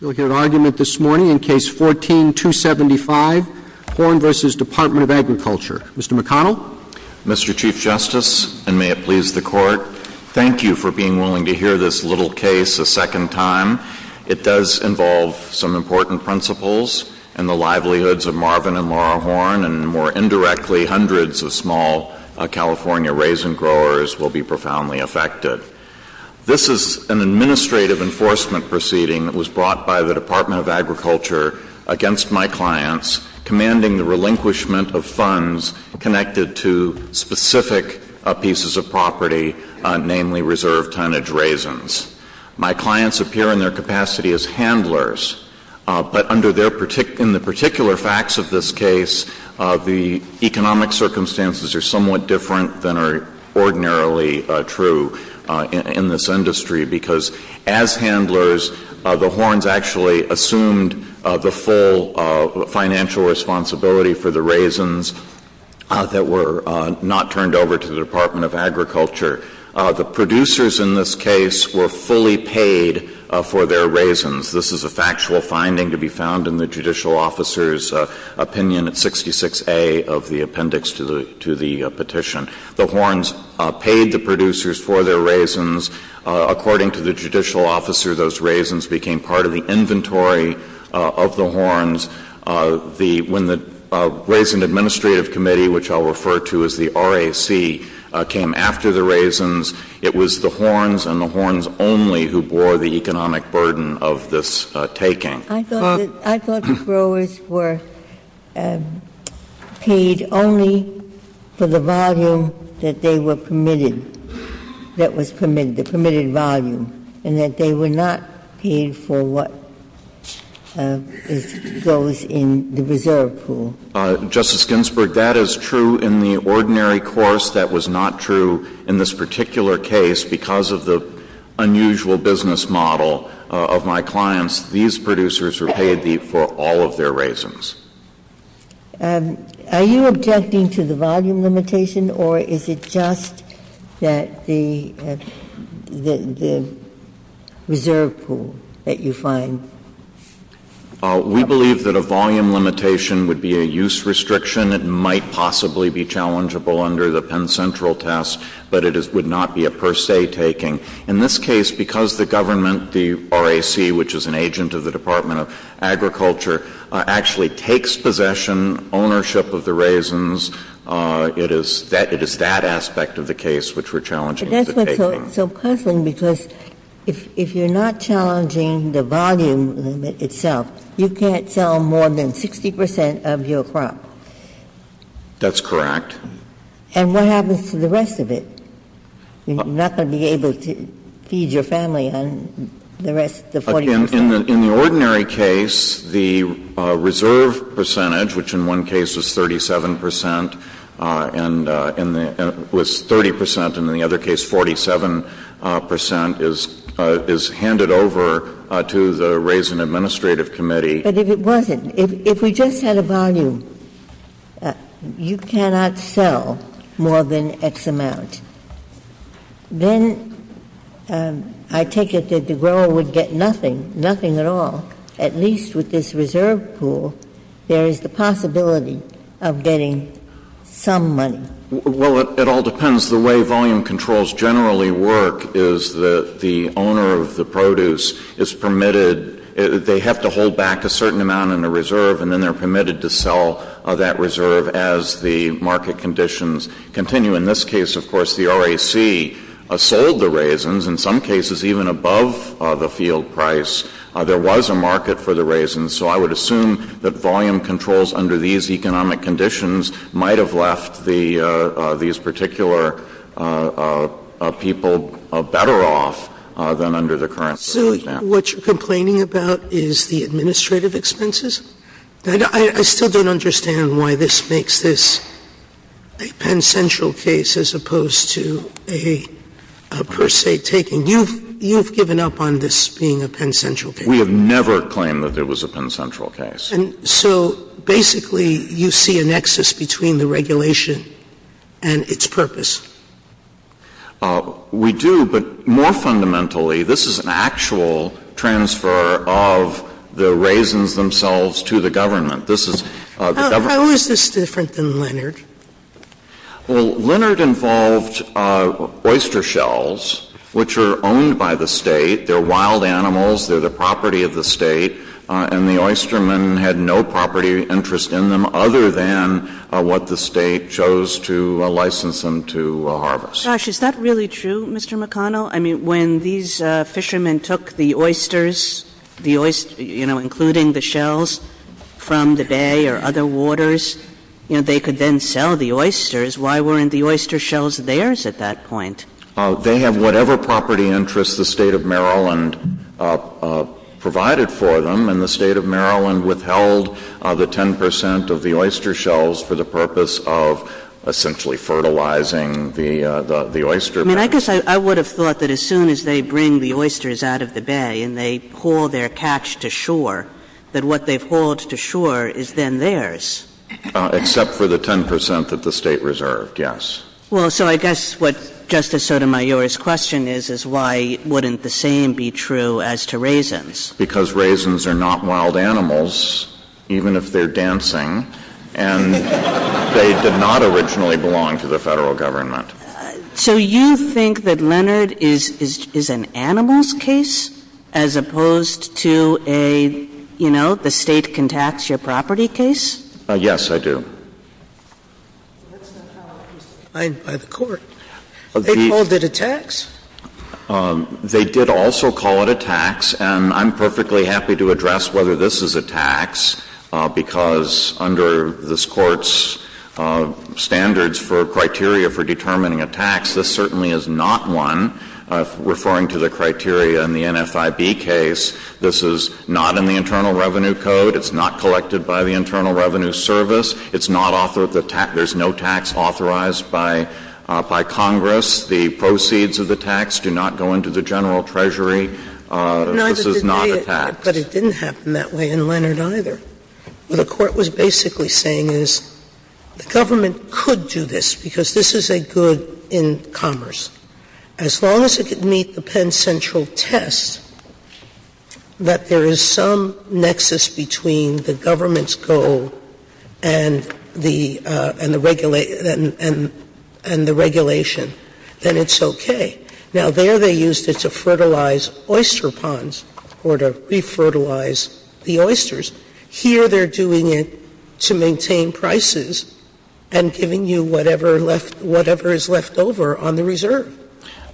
We'll get an argument this morning in Case 14-275, Horne v. Department of Agriculture. Mr. McConnell? Mr. Chief Justice, and may it please the Court, thank you for being willing to hear this little case a second time. It does involve some important principles and the livelihoods of Marvin and Laura Horne, and more indirectly, hundreds of small California raisin growers will be profoundly affected. This is an administrative enforcement proceeding that was brought by the Department of Agriculture against my clients, commanding the relinquishment of funds connected to specific pieces of property, namely reserve tonnage raisins. My clients appear in their capacity as handlers, but in the particular facts of this case, the economic circumstances are somewhat different than are ordinarily true. In this industry, because as handlers, the Hornes actually assumed the full financial responsibility for the raisins that were not turned over to the Department of Agriculture. The producers in this case were fully paid for their raisins. This is a factual finding to be found in the judicial officer's opinion at 66A of the appendix to the petition. The Hornes paid the producers for their raisins. According to the judicial officer, those raisins became part of the inventory of the Hornes. The raisin administrative committee, which I'll refer to as the RAC, came after the raisins. It was the Hornes and the Hornes only who bore the economic burden of this taking. Ginsburg. I thought the growers were paid only for the volume that they were permitted, that was permitted, the permitted volume, and that they were not paid for what goes in the reserve pool. Justice Ginsburg, that is true in the ordinary course. That was not true in this particular case because of the unusual business model of my clients. These producers were paid for all of their raisins. Are you objecting to the volume limitation, or is it just that the reserve pool that you find? We believe that a volume limitation would be a use restriction. It might possibly be challengeable under the Penn Central test, but it would not be a per se taking. In this case, because the government, the RAC, which is an agent of the Department of Agriculture, actually takes possession, ownership of the raisins, it is that aspect of the case which we're challenging. But that's what's so puzzling, because if you're not challenging the volume limit itself, you can't sell more than 60 percent of your crop. That's correct. And what happens to the rest of it? You're not going to be able to feed your family on the rest, the 40 percent. In the ordinary case, the reserve percentage, which in one case was 37 percent and was 30 percent, and in the other case, 47 percent, is handed over to the Raisin Administrative Committee. But if it wasn't, if we just had a volume, you cannot sell more than X amount. Then I take it that the grower would get nothing, nothing at all. At least with this reserve pool, there is the possibility of getting some money. Well, it all depends. The way volume controls generally work is that the owner of the produce is permitted they have to hold back a certain amount in a reserve, and then they're permitted to sell that reserve as the market conditions continue. In this case, of course, the RAC sold the raisins. In some cases, even above the field price, there was a market for the raisins. So I would assume that volume controls under these economic conditions might have left the these particular people better off than under the current circumstances. So what you're complaining about is the administrative expenses? I still don't understand why this makes this a Penn Central case as opposed to a per se taking. You've given up on this being a Penn Central case. We have never claimed that it was a Penn Central case. And so basically, you see a nexus between the regulation and its purpose. We do, but more fundamentally, this is an actual transfer of the raisins themselves to the government. This is the government. How is this different than Leonard? Well, Leonard involved oyster shells, which are owned by the State. They're wild animals. They're the property of the State. And the oystermen had no property interest in them other than what the State chose to license them to harvest. Gosh, is that really true, Mr. McConnell? I mean, when these fishermen took the oysters, the oysters, you know, including the shells from the bay or other waters, you know, they could then sell the oysters. Why weren't the oyster shells theirs at that point? They have whatever property interest the State of Maryland provided for them, and withheld the 10 percent of the oyster shells for the purpose of essentially fertilizing the oyster. I mean, I guess I would have thought that as soon as they bring the oysters out of the bay and they haul their catch to shore, that what they've hauled to shore is then theirs. Except for the 10 percent that the State reserved, yes. Well, so I guess what Justice Sotomayor's question is, is why wouldn't the same be true as to raisins? Because raisins are not wild animals, even if they're dancing, and they did not originally belong to the Federal Government. So you think that Leonard is an animals case as opposed to a, you know, the State can tax your property case? Yes, I do. That's not how it was defined by the Court. They called it a tax. They did also call it a tax, and I'm perfectly happy to address whether this is a tax, because under this Court's standards for criteria for determining a tax, this certainly is not one. Referring to the criteria in the NFIB case, this is not in the Internal Revenue Code. It's not collected by the Internal Revenue Service. It's not author of the tax. There's no tax authorized by Congress. The proceeds of the tax do not go into the General Treasury. This is not a tax. But it didn't happen that way in Leonard either. What the Court was basically saying is the government could do this because this is a good in commerce. As long as it could meet the Penn Central test that there is some nexus between the government's goal and the regulation, then it's okay. Now, there they used it to fertilize oyster ponds or to refertilize the oysters. Here they're doing it to maintain prices and giving you whatever is left over on the reserve.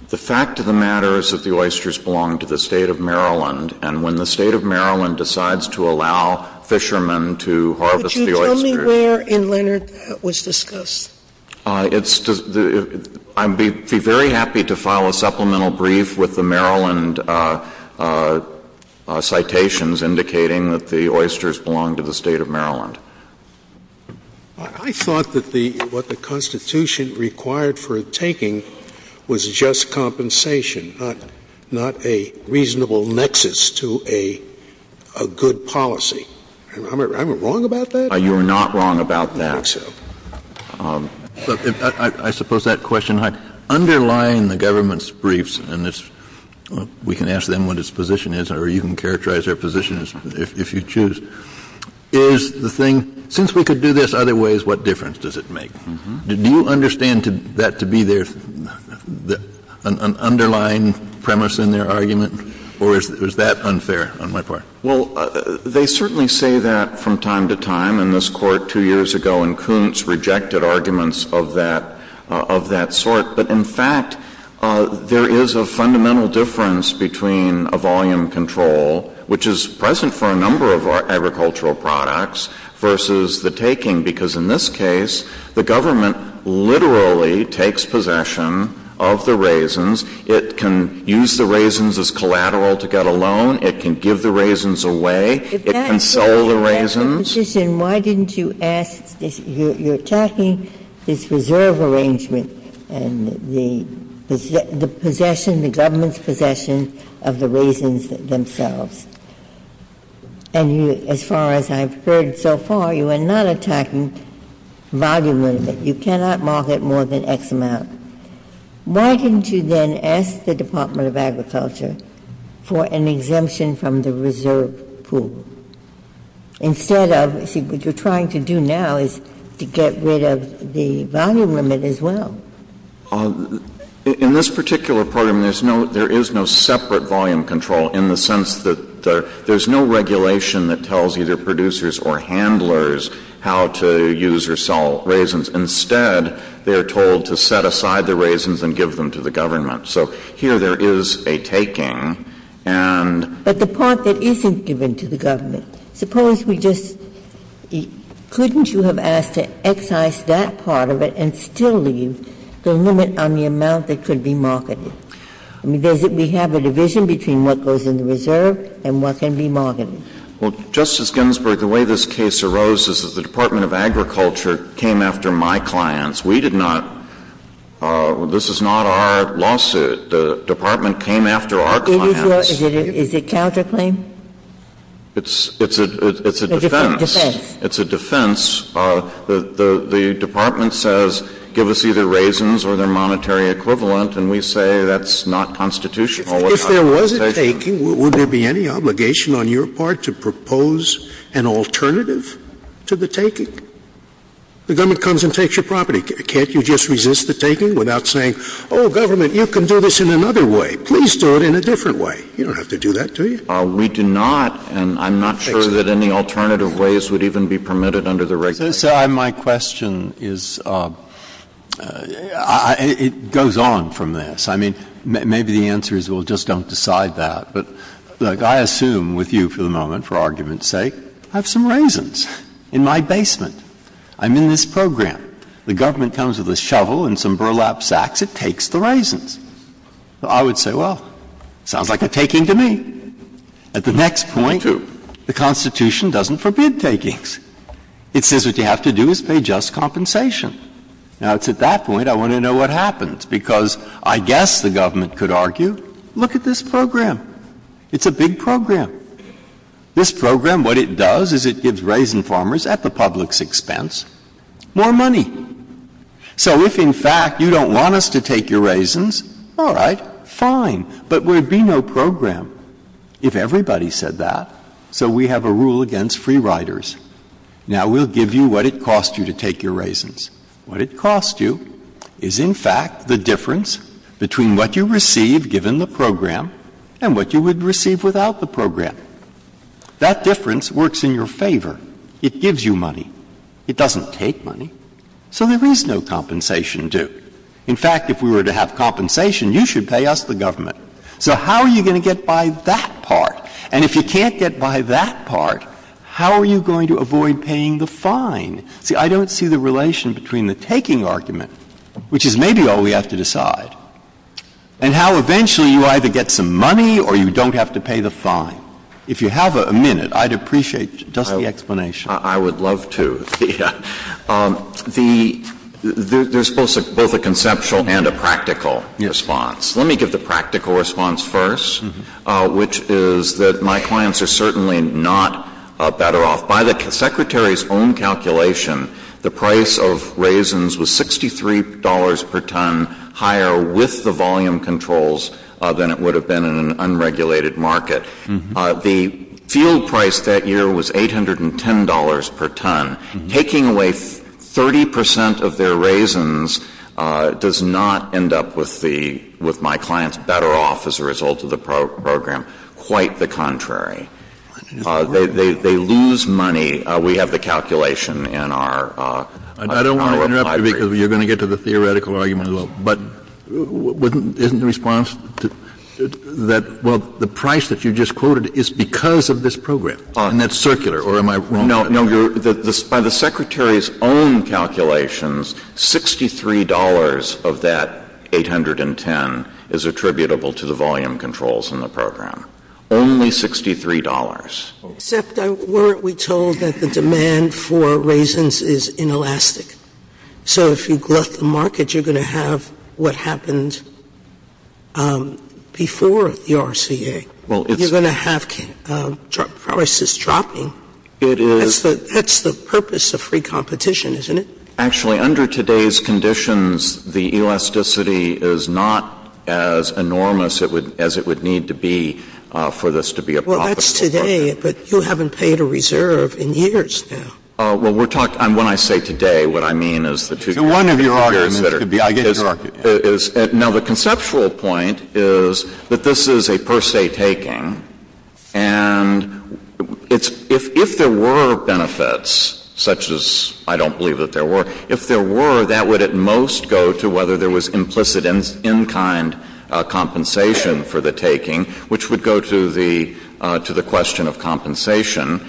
The fact of the matter is that the oysters belong to the State of Maryland, and when the State of Maryland decides to allow fishermen to harvest the oysters Could you tell me where in Leonard that was discussed? I'd be very happy to file a supplemental brief with the Maryland citations indicating that the oysters belong to the State of Maryland. I thought that what the Constitution required for taking was just compensation, not a reasonable nexus to a good policy. Am I wrong about that? You are not wrong about that. I don't think so. I suppose that question, underlying the government's briefs, and we can ask them what its position is, or you can characterize their position if you choose, is the thing, since we could do this other ways, what difference does it make? Do you understand that to be an underlying premise in their argument, or is that unfair on my part? Well, they certainly say that from time to time, and this Court two years ago in Kuntz rejected arguments of that sort. But, in fact, there is a fundamental difference between a volume control, which is present for a number of agricultural products, versus the taking. Because in this case, the government literally takes possession of the raisins. It can use the raisins as collateral to get a loan. It can give the raisins away. It can sell the raisins. If that is your position, why didn't you ask this? You are attacking this reserve arrangement and the possession, the government's possession of the raisins themselves. And you, as far as I have heard so far, you are not attacking volume limit. You cannot market more than X amount. Why didn't you then ask the Department of Agriculture for an exemption from the reserve pool, instead of, you see, what you are trying to do now is to get rid of the volume limit as well. In this particular program, there is no separate volume control in the sense that there is no regulation that tells either producers or handlers how to use or sell raisins. Instead, they are told to set aside the raisins and give them to the government. So here there is a taking, and the part that isn't given to the government. Suppose we just — couldn't you have asked to excise that part of it and still leave the limit on the amount that could be marketed? I mean, does it — we have a division between what goes in the reserve and what can be marketed. Well, Justice Ginsburg, the way this case arose is that the Department of Agriculture came after my clients. We did not. This is not our lawsuit. The department came after our clients. Is it counterclaim? It's a defense. It's a defense. The department says give us either raisins or their monetary equivalent, and we say that's not constitutional. If there was a taking, would there be any obligation on your part to propose an alternative to the taking? The government comes and takes your property. Can't you just resist the taking without saying, oh, government, you can do this in another way. Please do it in a different way. You don't have to do that, do you? We do not, and I'm not sure that any alternative ways would even be permitted under the regulations. So, sir, my question is, it goes on from this. I mean, maybe the answer is, well, just don't decide that. But, look, I assume with you for the moment, for argument's sake, I have some raisins in my basement. I'm in this program. The government comes with a shovel and some burlap sacks. It takes the raisins. I would say, well, sounds like a taking to me. At the next point, the Constitution doesn't forbid takings. It says what you have to do is pay just compensation. Now, it's at that point I want to know what happens, because I guess the government could argue, look at this program. It's a big program. This program, what it does is it gives raisin farmers, at the public's expense, more money. So if, in fact, you don't want us to take your raisins, all right, fine, but there would be no program if everybody said that. So we have a rule against free riders. Now, we'll give you what it costs you to take your raisins. What it costs you is, in fact, the difference between what you receive given the program and what you would receive without the program. That difference works in your favor. It gives you money. It doesn't take money. So there is no compensation, too. In fact, if we were to have compensation, you should pay us, the government. So how are you going to get by that part? And if you can't get by that part, how are you going to avoid paying the fine? See, I don't see the relation between the taking argument, which is maybe all we have to decide, and how eventually you either get some money or you don't have to pay the fine. If you have a minute, I'd appreciate just the explanation. I would love to. The — there's both a conceptual and a practical response. Let me give the practical response first, which is that my clients are certainly not better off. By the Secretary's own calculation, the price of raisins was $63 per ton higher with the volume controls than it would have been in an unregulated market. The field price that year was $810 per ton. Taking away 30 percent of their raisins does not end up with the — with my clients better off as a result of the program. Quite the contrary. They lose money. We have the calculation in our library. Kennedy, I don't want to interrupt you because you're going to get to the theoretical argument, but isn't the response that, well, the price that you just quoted is because of this program? And it's circular, or am I wrong? No, no. By the Secretary's own calculations, $63 of that $810 is attributable to the volume controls in the program. Only $63. Except weren't we told that the demand for raisins is inelastic? So if you glut the market, you're going to have what happened before the RCA. Well, it's — You're going to have prices dropping. It is — That's the purpose of free competition, isn't it? Actually, under today's conditions, the elasticity is not as enormous as it would need to be for this to be a profitable program. Well, that's today, but you haven't paid a reserve in years now. Well, we're talking — when I say today, what I mean is the two years that are — To one of your arguments could be — I get your argument. Now, the conceptual point is that this is a per se taking, and it's — if there were benefits, such as I don't believe that there were, if there were, that would at most go to whether there was implicit in-kind compensation for the taking, which would go to the question of compensation.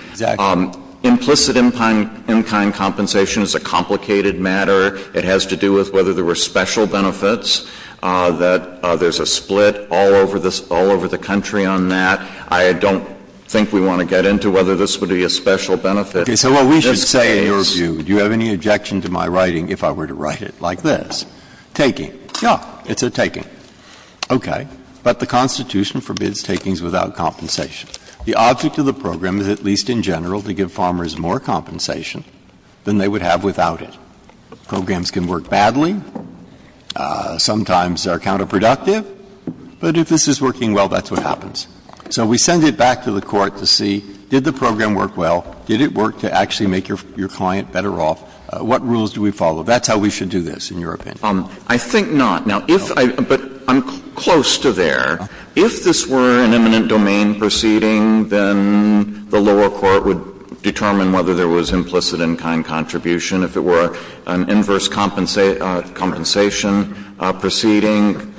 Implicit in-kind compensation is a complicated matter. It has to do with whether there were special benefits, that there's a split all over this — all over the country on that. I don't think we want to get into whether this would be a special benefit in this case. Okay. So what we should say in your view, do you have any objection to my writing if I were to write it like this? Taking. Yeah. It's a taking. Okay. But the Constitution forbids takings without compensation. The object of the program is at least in general to give farmers more compensation than they would have without it. Programs can work badly, sometimes are counterproductive, but if this is working well, that's what happens. So we send it back to the Court to see, did the program work well? Did it work to actually make your client better off? What rules do we follow? That's how we should do this, in your opinion. I think not. Now, if I — but I'm close to there. If this were an eminent domain proceeding, then the lower court would determine whether there was implicit in-kind contribution. If it were an inverse compensation proceeding,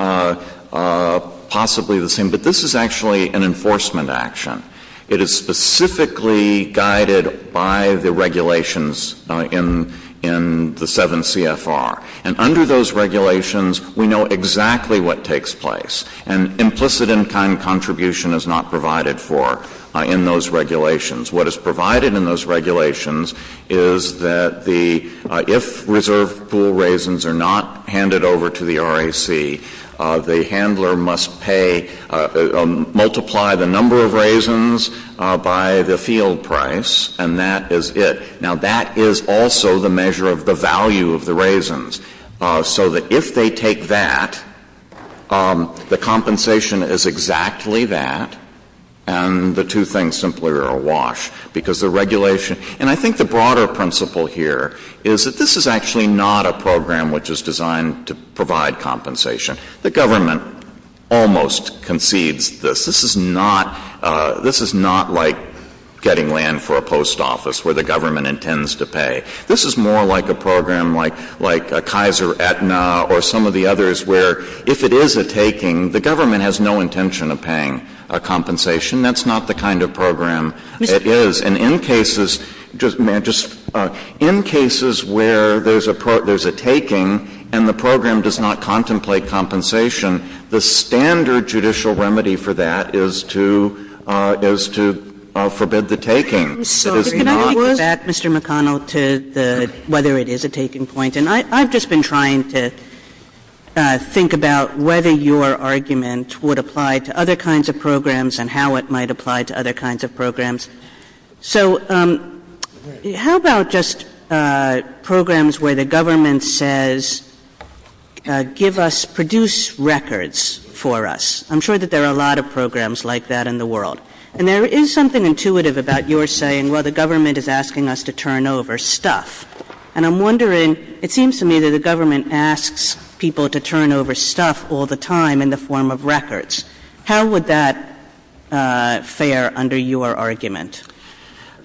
possibly the same. But this is actually an enforcement action. It is specifically guided by the regulations in the 7 CFR. And under those regulations, we know exactly what takes place. And implicit in-kind contribution is not provided for in those regulations. What is provided in those regulations is that the — if reserve pool raisins are not handed over to the RAC, the handler must pay — multiply the number of raisins by the field price, and that is it. Now, that is also the measure of the value of the raisins, so that if they take that, the compensation is exactly that, and the two things simply are awash. Because the regulation — and I think the broader principle here is that this is actually not a program which is designed to provide compensation. The government almost concedes this. This is not — this is not like getting land for a post office where the government intends to pay. This is more like a program like — like a Kaiser Aetna or some of the others where, if it is a taking, the government has no intention of paying a compensation. That's not the kind of program it is. And in cases — may I just — in cases where there's a — there's a taking and the program does not contemplate compensation, the standard judicial remedy for that is to — is to forbid the taking. It is not — So I just want to get back, Mr. McConnell, to the — whether it is a taking point. And I I've just been trying to think about whether your argument would apply to other kinds of programs and how it might apply to other kinds of programs. So how about just programs where the government says give us — produce records for us? I'm sure that there are a lot of programs like that in the world. And there is something intuitive about your saying, well, the government is asking us to turn over stuff. And I'm wondering — it seems to me that the government asks people to turn over stuff all the time in the form of records. How would that fare under your argument?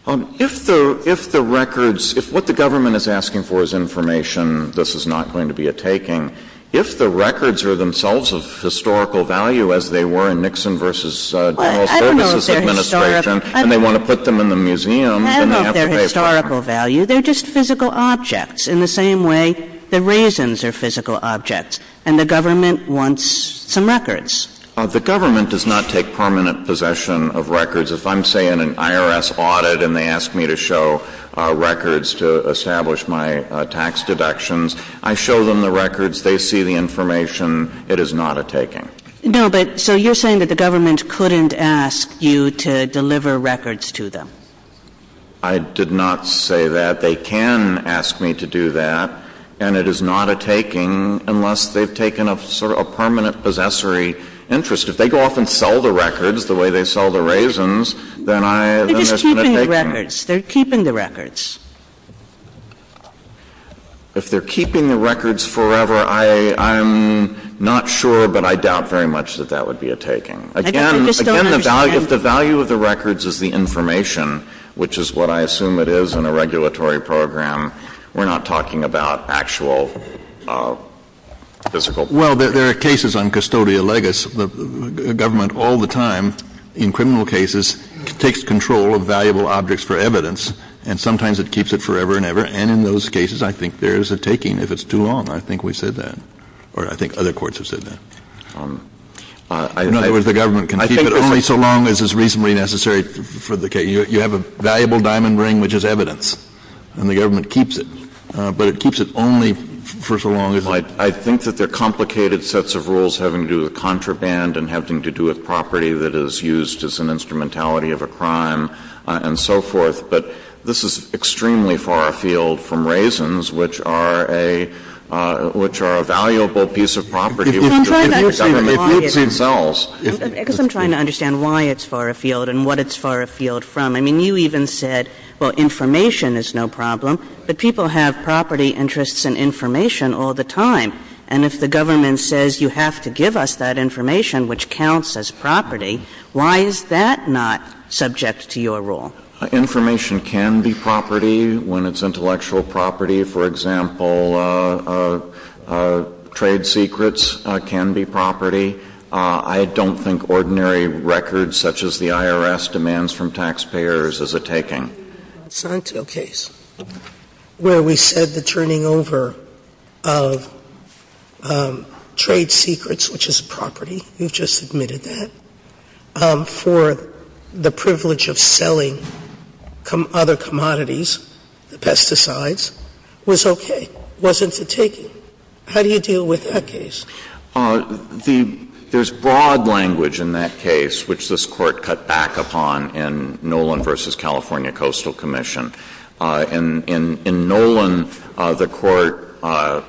If the — if the records — if what the government is asking for is information, this is not going to be a taking. If the records are themselves of historical value, as they were in Nixon v. General Services Administration, and they want to put them in the museum, then they have to pay for them. I don't know if they're historical value. They're just physical objects in the same way that raisins are physical objects. And the government wants some records. The government does not take permanent possession of records. If I'm, say, in an IRS audit and they ask me to show records to establish my tax deductions, I show them the records, they see the information, it is not a taking. No, but — so you're saying that the government couldn't ask you to deliver records to them. I did not say that. They can ask me to do that, and it is not a taking unless they've taken a sort of permanent possessory interest. If they go off and sell the records the way they sell the raisins, then I — They're just keeping the records. If they're keeping the records forever, I'm not sure, but I doubt very much that that would be a taking. I just don't understand — Again, if the value of the records is the information, which is what I assume it is in a regulatory program, we're not talking about actual physical — Well, there are cases on custodia legis. The government all the time, in criminal cases, takes control of valuable objects for evidence, and sometimes it keeps it forever and ever. And in those cases, I think there is a taking. If it's too long, I think we said that, or I think other courts have said that. In other words, the government can keep it only so long as is reasonably necessary for the case. You have a valuable diamond ring, which is evidence, and the government keeps it. But it keeps it only for so long as it is necessary. I think that there are complicated sets of rules having to do with contraband and having to do with property that is used as an instrumentality of a crime and so forth. But this is extremely far afield from raisins, which are a — which are a valuable piece of property. If the government — But I'm trying to understand why it's — It makes itself. Because I'm trying to understand why it's far afield and what it's far afield from. I mean, you even said, well, information is no problem, but people have property interests in information all the time. And if the government says, you have to give us that information, which counts as property, why is that not subject to your rule? Information can be property when it's intellectual property. For example, trade secrets can be property. I don't think ordinary records such as the IRS demands from taxpayers is a taking. Sotomayor, you mentioned the Santo case where we said the turning over of trade secrets, which is property, we've just admitted that, for the privilege of selling other commodities, the pesticides was okay, wasn't a taking. How do you deal with that case? The — there's broad language in that case, which this Court cut back upon in Nolan v. California Coastal Commission. In Nolan, the Court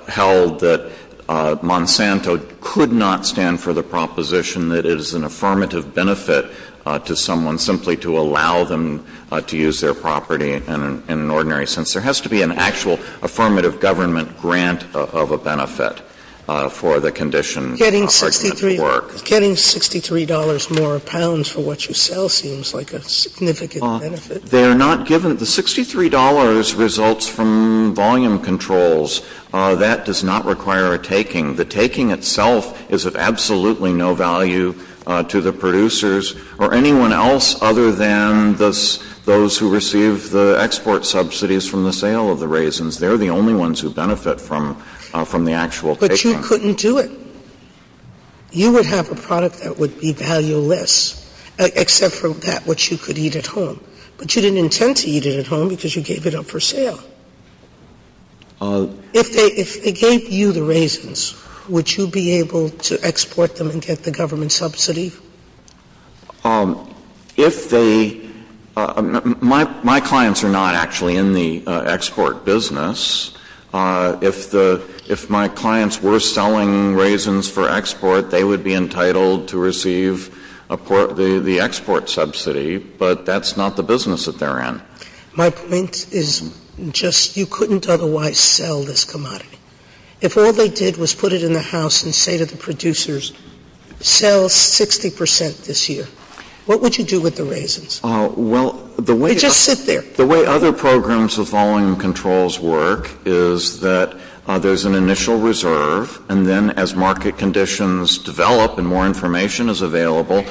held that Monsanto could not stand for the proposition that it is an affirmative benefit to someone simply to allow them to use their property in an ordinary sense. There has to be an actual affirmative government grant of a benefit for the condition of argument of work. Sotomayor, getting $63 more a pound for what you sell seems like a significant benefit. They are not given — the $63 results from volume controls. That does not require a taking. The taking itself is of absolutely no value to the producers or anyone else other than those who receive the export subsidies from the sale of the raisins. They are the only ones who benefit from the actual taking. But you couldn't do it. You would have a product that would be valueless, except for that which you could eat at home. But you didn't intend to eat it at home because you gave it up for sale. If they — if they gave you the raisins, would you be able to export them and get the government subsidy? If they — my clients are not actually in the export business. If the — if my clients were selling raisins for export, they would be entitled to receive the export subsidy, but that's not the business that they're in. My point is just you couldn't otherwise sell this commodity. If all they did was put it in the House and say to the producers, sell 60 percent this year, what would you do with the raisins? Well, the way — They'd just sit there. The way other programs of volume controls work is that there's an initial reserve, and then as market conditions develop and more information is available,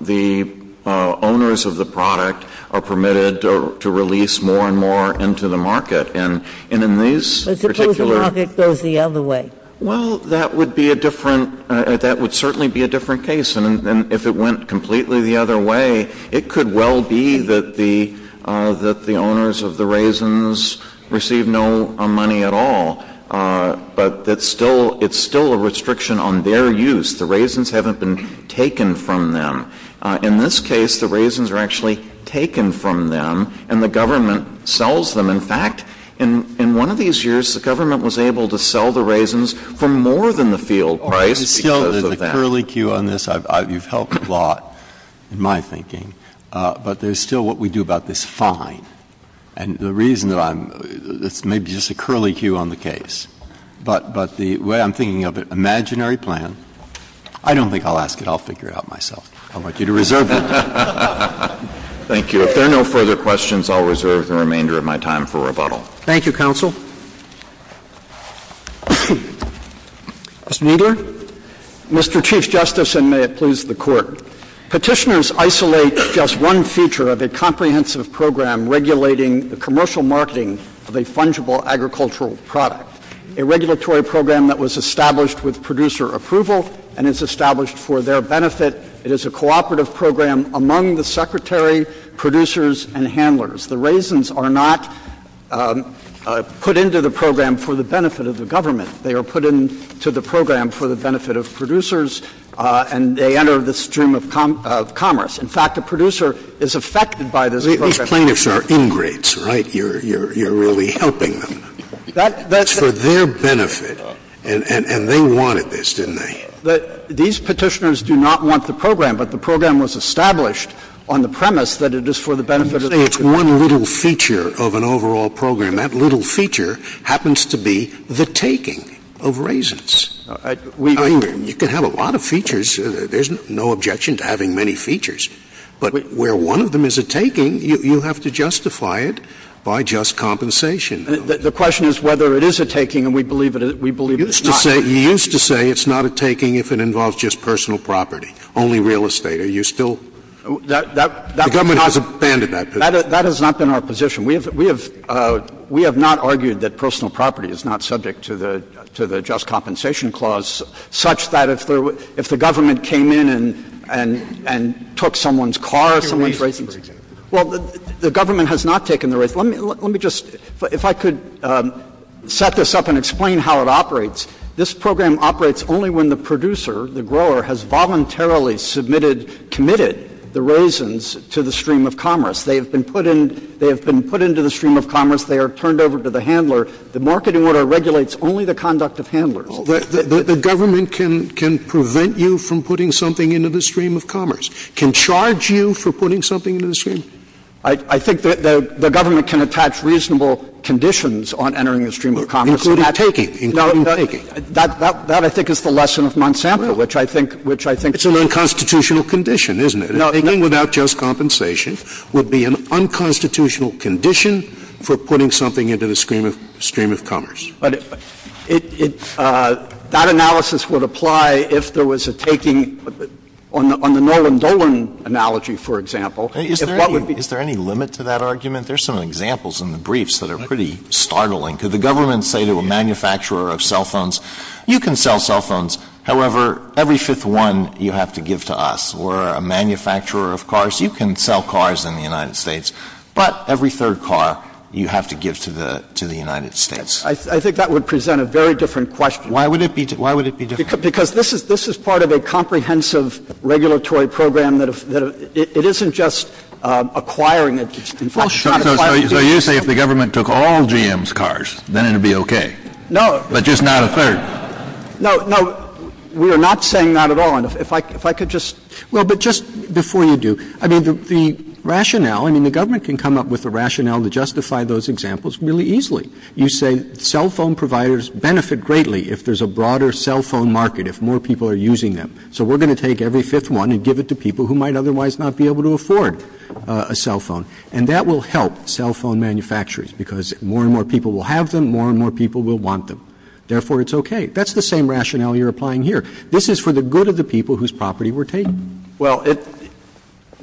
the owners of the product are permitted to release more and more into the market. And in these particular — But suppose the market goes the other way. Well, that would be a different — that would certainly be a different case. And if it went completely the other way, it could well be that the — that the owners of the raisins receive no money at all. But it's still — it's still a restriction on their use. The raisins haven't been taken from them. In this case, the raisins are actually taken from them, and the government sells them. In fact, in one of these years, the government was able to sell the raisins for more than the field price because of them. So there's a curlicue on this. You've helped a lot in my thinking. But there's still what we do about this fine. And the reason that I'm — it's maybe just a curlicue on the case. But the way I'm thinking of it, imaginary plan, I don't think I'll ask it. I'll figure it out myself. I want you to reserve it. Thank you. If there are no further questions, I'll reserve the remainder of my time for rebuttal. Thank you, counsel. Mr. Kneedler. Mr. Chief Justice, and may it please the Court. Petitioners isolate just one feature of a comprehensive program regulating the commercial marketing of a fungible agricultural product, a regulatory program that was established with producer approval and is established for their benefit. It is a cooperative program among the secretary, producers, and handlers. The raisins are not put into the program for the benefit of the government. They are put into the program for the benefit of producers, and they enter the stream of commerce. In fact, a producer is affected by this program. These plaintiffs are ingrates, right? You're really helping them. That's for their benefit. And they wanted this, didn't they? These Petitioners do not want the program, but the program was established on the premise that it is for the benefit of producers. I'm just saying it's one little feature of an overall program. That little feature happens to be the taking of raisins. I mean, you can have a lot of features. There's no objection to having many features. But where one of them is a taking, you have to justify it by just compensation. The question is whether it is a taking, and we believe it is not. You used to say it's not a taking if it involves just personal property, only real estate. Are you still? The government has abandoned that position. That has not been our position. We have not argued that personal property is not subject to the just compensation clause, such that if the government came in and took someone's car or someone's raisins. Well, the government has not taken the raisins. Let me just, if I could set this up and explain how it operates, this program operates only when the producer, the grower, has voluntarily submitted, committed the raisins to the stream of commerce. They have been put in, they have been put into the stream of commerce. They are turned over to the handler. The marketing order regulates only the conduct of handlers. The government can prevent you from putting something into the stream of commerce? Can charge you for putting something into the stream? I think the government can attach reasonable conditions on entering the stream of commerce. Including taking. Including taking. That, I think, is the lesson of Monsanto, which I think. It's an unconstitutional condition, isn't it? Taking without just compensation would be an unconstitutional condition for putting something into the stream of, stream of commerce. But it, it, that analysis would apply if there was a taking on the, on the Nolan Dolan analogy, for example. If what would be. Is there any, is there any limit to that argument? There's some examples in the briefs that are pretty startling. Could the government say to a manufacturer of cell phones, you can sell cell phones. However, every fifth one you have to give to us. We're a manufacturer of cars. You can sell cars in the United States. But every third car you have to give to the, to the United States. I think that would present a very different question. Why would it be, why would it be different? Because this is, this is part of a comprehensive regulatory program that, that it isn't just acquiring it. Well, sure. So you say if the government took all GM's cars, then it would be okay. No. But just not a third. No, no. We are not saying that at all. And if I, if I could just. Well, but just before you do. I mean, the, the rationale, I mean, the government can come up with a rationale to justify those examples really easily. You say cell phone providers benefit greatly if there's a broader cell phone market, if more people are using them. So we're going to take every fifth one and give it to people who might otherwise not be able to afford a cell phone. And that will help cell phone manufacturers because more and more people will have them, more and more people will want them. Therefore, it's okay. That's the same rationale you're applying here. This is for the good of the people whose property we're taking. Well, it,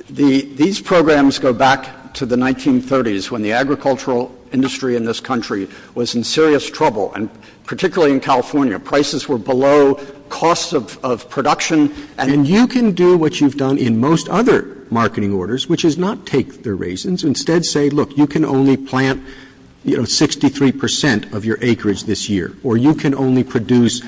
the, these programs go back to the 1930s when the agricultural industry in this country was in serious trouble. And particularly in California, prices were below costs of, of production. And you can do what you've done in most other marketing orders, which is not take their raisins. Instead say, look, you can only plant, you know, 63 percent of your acreage this year, or you can only produce,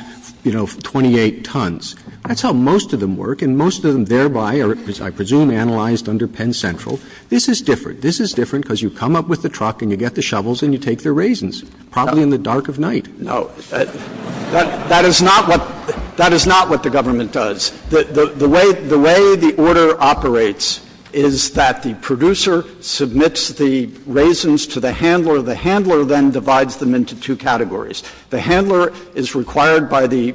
you know, 28 tons. That's how most of them work. And most of them thereby are, I presume, analyzed under Penn Central. This is different. This is different because you come up with the truck and you get the shovels and you take their raisins, probably in the dark of night. No. That, that is not what, that is not what the government does. The, the, the way, the way the order operates is that the producer submits the raisins to the handler. The handler then divides them into two categories. The handler is required by the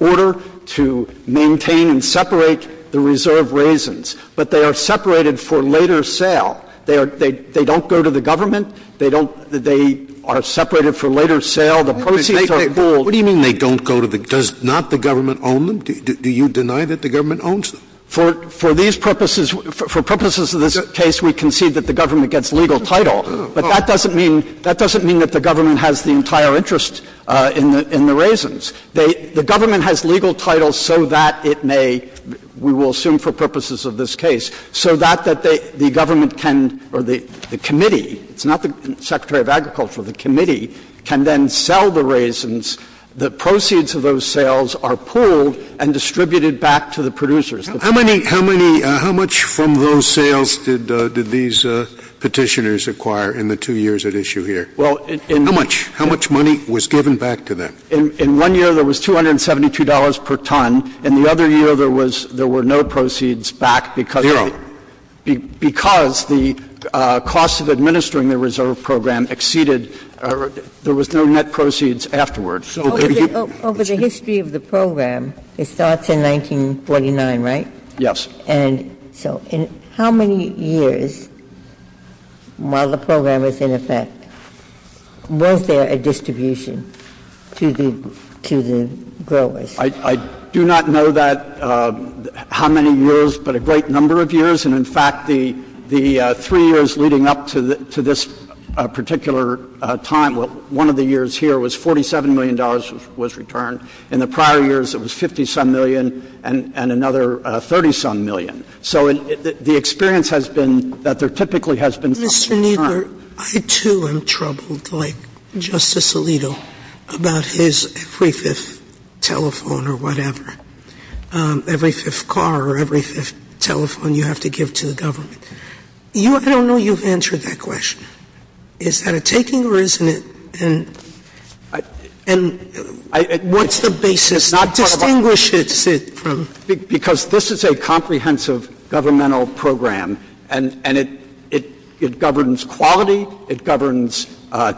order to maintain and separate the reserve raisins, but they are separated for later sale. They are, they, they don't go to the government. They don't, they are separated for later sale. The proceeds are pooled. Scalia. What do you mean they don't go to the, does not the government own them? Do, do you deny that the government owns them? Kneedler. For, for these purposes, for purposes of this case, we concede that the government gets legal title. But that doesn't mean, that doesn't mean that the government has the entire interest in the, in the raisins. They, the government has legal title so that it may, we will assume for purposes of this case, so that, that they, the government can, or the, the committee, it's not the Secretary of Agriculture, the committee can then sell the raisins. The proceeds of those sales are pooled and distributed back to the producers. Scalia. How many, how many, how much from those sales did, did these Petitioners acquire in the two years at issue here? Kneedler. Well, in. Scalia. How much? How much money was given back to them? Kneedler. In, in one year there was $272 per ton. In the other year there was, there were no proceeds back because. Scalia. Zero. Because the cost of administering the reserve program exceeded, there was no net proceeds afterwards. Over the history of the program, it starts in 1949, right? Kneedler. Yes. Ginsburg. And so in how many years, while the program was in effect, was there a distribution to the, to the growers? Kneedler. I, I do not know that, how many years, but a great number of years. And, in fact, the, the three years leading up to the, to this particular time, one of the years here was $47 million was returned. In the prior years it was 50-some million and, and another 30-some million. So the experience has been that there typically has been some return. Sotomayor. Mr. Kneedler, I, too, am troubled, like Justice Alito, about his every fifth telephone or whatever, every fifth car or every fifth telephone you have to give to the government. You, I don't know you've answered that question. Is that a taking or isn't it? And, and what's the basis to distinguish it from? Because this is a comprehensive governmental program and, and it, it, it governs quality, it governs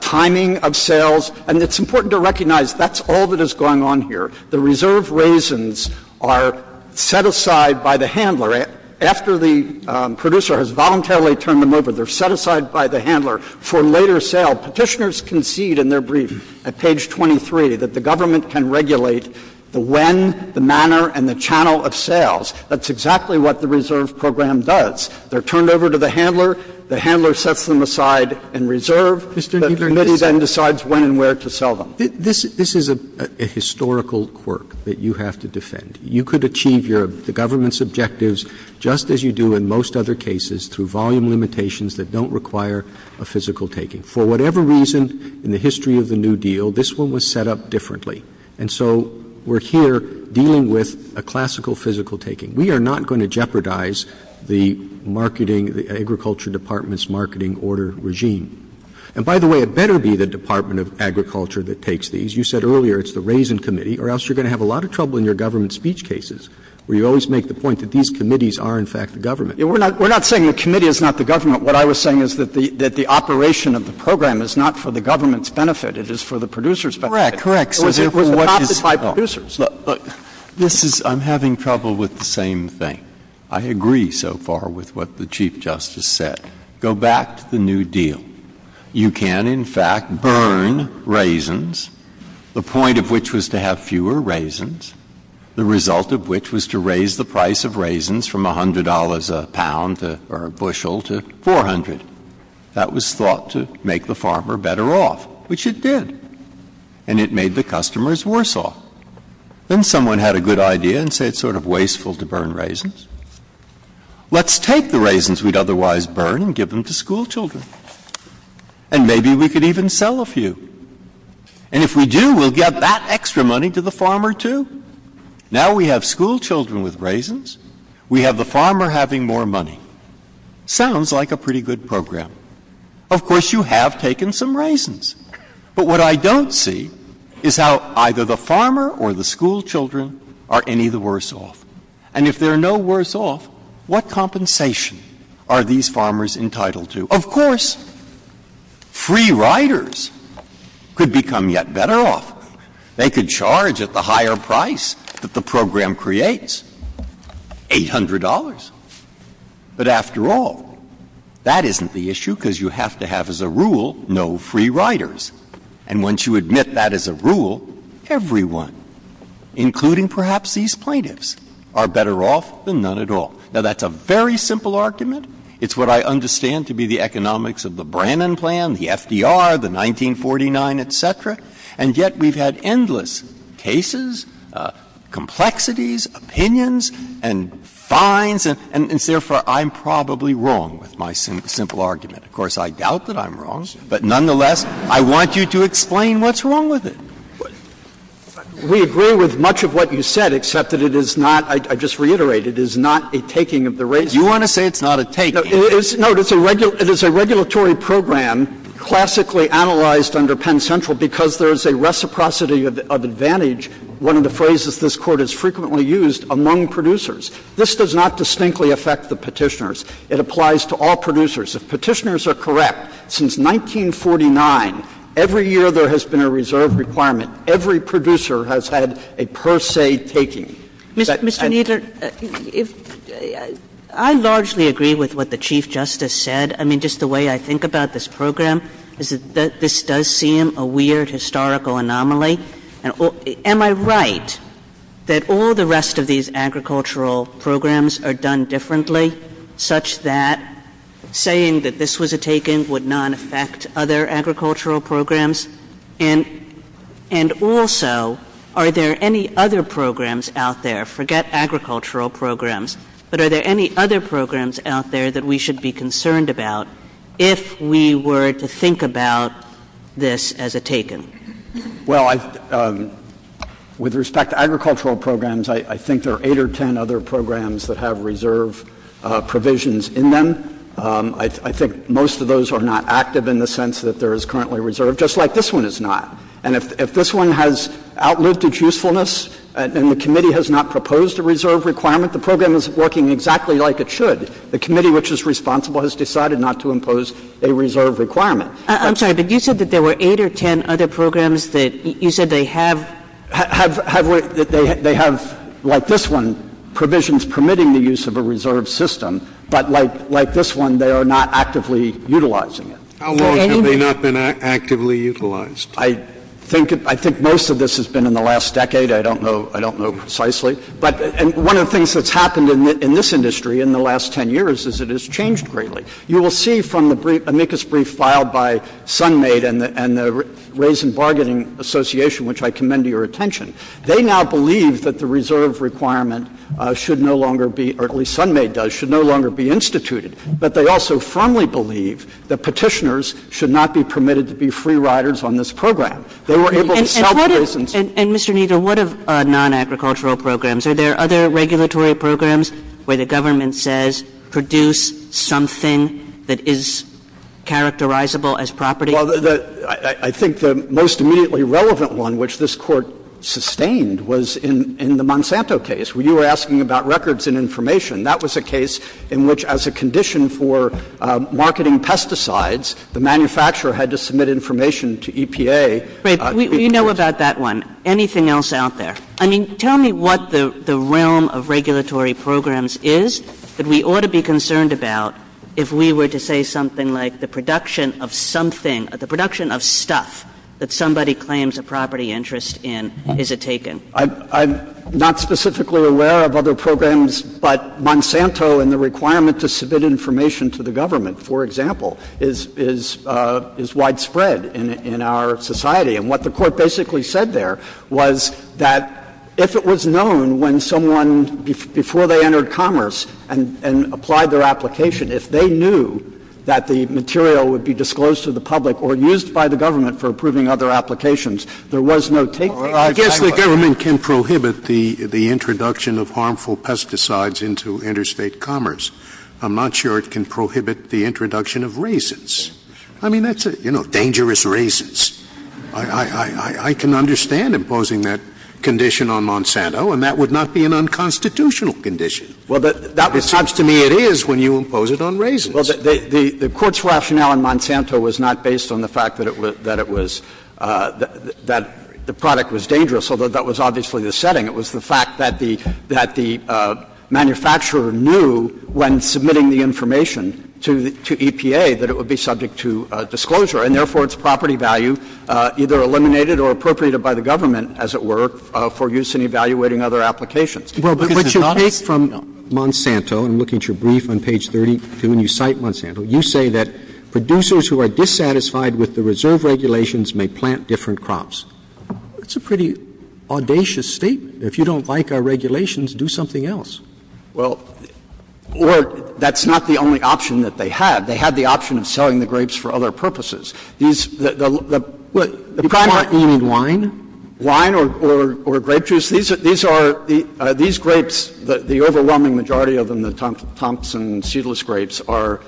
timing of sales, and it's important to recognize that's all that is going on here. The reserve raisins are set aside by the handler. After the producer has voluntarily turned them over, they're set aside by the handler for later sale. Petitioners concede in their brief at page 23 that the government can regulate the when, the manner, and the channel of sales. That's exactly what the reserve program does. They're turned over to the handler, the handler sets them aside in reserve. The committee then decides when and where to sell them. This, this is a, a historical quirk that you have to defend. You could achieve your, the government's objectives just as you do in most other cases through volume limitations that don't require a physical taking. For whatever reason in the history of the New Deal, this one was set up differently. And so we're here dealing with a classical physical taking. We are not going to jeopardize the marketing, the Agriculture Department's marketing order regime. And by the way, it better be the Department of Agriculture that takes these. You said earlier it's the Raisin Committee, or else you're going to have a lot of trouble in your government speech cases, where you always make the point that these committees are, in fact, the government. We're not, we're not saying the committee is not the government. What I was saying is that the, that the operation of the program is not for the government's benefit, it is for the producers' benefit. Correct. Correct. It was adopted by producers. This is, I'm having trouble with the same thing. I agree so far with what the Chief Justice said. Go back to the New Deal. You can, in fact, burn raisins, the point of which was to have fewer raisins, the result of which was to raise the price of raisins from $100 a pound to, or a bushel, to 400. That was thought to make the farmer better off, which it did. And it made the customers worse off. Then someone had a good idea and said it's sort of wasteful to burn raisins. Let's take the raisins we'd otherwise burn and give them to schoolchildren. And maybe we could even sell a few. And if we do, we'll get that extra money to the farmer, too. Now we have schoolchildren with raisins, we have the farmer having more money. Sounds like a pretty good program. Of course, you have taken some raisins. But what I don't see is how either the farmer or the schoolchildren are any of the worse off. And if they're no worse off, what compensation are these farmers entitled to? Of course, free riders could become yet better off. They could charge at the higher price that the program creates, $800. But after all, that isn't the issue because you have to have as a rule no free riders. And once you admit that as a rule, everyone, including perhaps these plaintiffs, are better off than none at all. Now, that's a very simple argument. It's what I understand to be the economics of the Brannon Plan, the FDR, the 1949, et cetera, and yet we've had endless cases, complexities, opinions, and fines. And therefore, I'm probably wrong with my simple argument. Of course, I doubt that I'm wrong. But nonetheless, I want you to explain what's wrong with it. We agree with much of what you said, except that it is not, I just reiterate, it is not a taking of the raisins. You want to say it's not a taking? Kneedler, it is a regulatory program classically analyzed under Penn Central because there is a reciprocity of advantage, one of the phrases this Court has frequently used, among producers. This does not distinctly affect the Petitioners. It applies to all producers. If Petitioners are correct, since 1949, every year there has been a reserve requirement, every producer has had a per se taking. Mr. Kneedler, I largely agree with what the Chief Justice said. I mean, just the way I think about this program is that this does seem a weird historical anomaly. Am I right that all the rest of these agricultural programs are done differently such that saying that this was a taking would not affect other agricultural programs? And also, are there any other programs out there, forget agricultural programs, but are there any other programs out there that we should be concerned about if we were to think about this as a taking? Well, with respect to agricultural programs, I think there are 8 or 10 other programs that have reserve provisions in them. I think most of those are not active in the sense that there is currently a reserve just like this one is not. And if this one has outlived its usefulness and the committee has not proposed a reserve requirement, the program is working exactly like it should. The committee which is responsible has decided not to impose a reserve requirement. I'm sorry, but you said that there were 8 or 10 other programs that you said they have? They have, like this one, provisions permitting the use of a reserve system, but like this one, they are not actively utilizing it. How long have they not been actively utilized? I think most of this has been in the last decade. I don't know precisely. But one of the things that's happened in this industry in the last 10 years is it has changed greatly. You will see from the amicus brief filed by Sunmate and the Raisin Bargaining Association, which I commend to your attention, they now believe that the reserve requirement should no longer be, or at least Sunmate does, should no longer be instituted. But they also firmly believe that Petitioners should not be permitted to be free riders on this program. They were able to sell the raisins. Kagan and Mr. Kneedler, what of non-agricultural programs? Are there other regulatory programs where the government says produce something that is characterizable as property? Well, I think the most immediately relevant one which this Court sustained was in the Monsanto case, where you were asking about records and information. That was a case in which as a condition for marketing pesticides, the manufacturer had to submit information to EPA. We know about that one. Anything else out there? I mean, tell me what the realm of regulatory programs is that we ought to be concerned about if we were to say something like the production of something, the production of stuff that somebody claims a property interest in is a taken. I'm not specifically aware of other programs, but Monsanto and the requirement to submit information to the government, for example, is widespread in our society. And what the Court basically said there was that if it was known when someone, before they entered commerce and applied their application, if they knew that the material would be disclosed to the public or used by the government for approving other applications, there was no taken. Scalia. I guess the government can prohibit the introduction of harmful pesticides into interstate commerce. I'm not sure it can prohibit the introduction of raisins. I mean, that's a, you know, dangerous raisins. I can understand imposing that condition on Monsanto, and that would not be an unconstitutional condition. Well, that seems to me it is when you impose it on raisins. Well, the Court's rationale in Monsanto was not based on the fact that it was that the product was dangerous, although that was obviously the setting. It was the fact that the manufacturer knew when submitting the information to EPA that it would be subject to disclosure, and therefore its property value either eliminated or appropriated by the government, as it were, for use in evaluating other applications. Well, but what you take from Monsanto, and look at your brief on page 32, and you cite Monsanto, you say that producers who are dissatisfied with the reserve regulations may plant different crops. That's a pretty audacious statement. If you don't like our regulations, do something else. Well, or that's not the only option that they had. They had the option of selling the grapes for other purposes. These, the primary. You mean wine? Wine or grape juice. These are, these grapes, the overwhelming majority of them, the Thompson seedless grapes, are,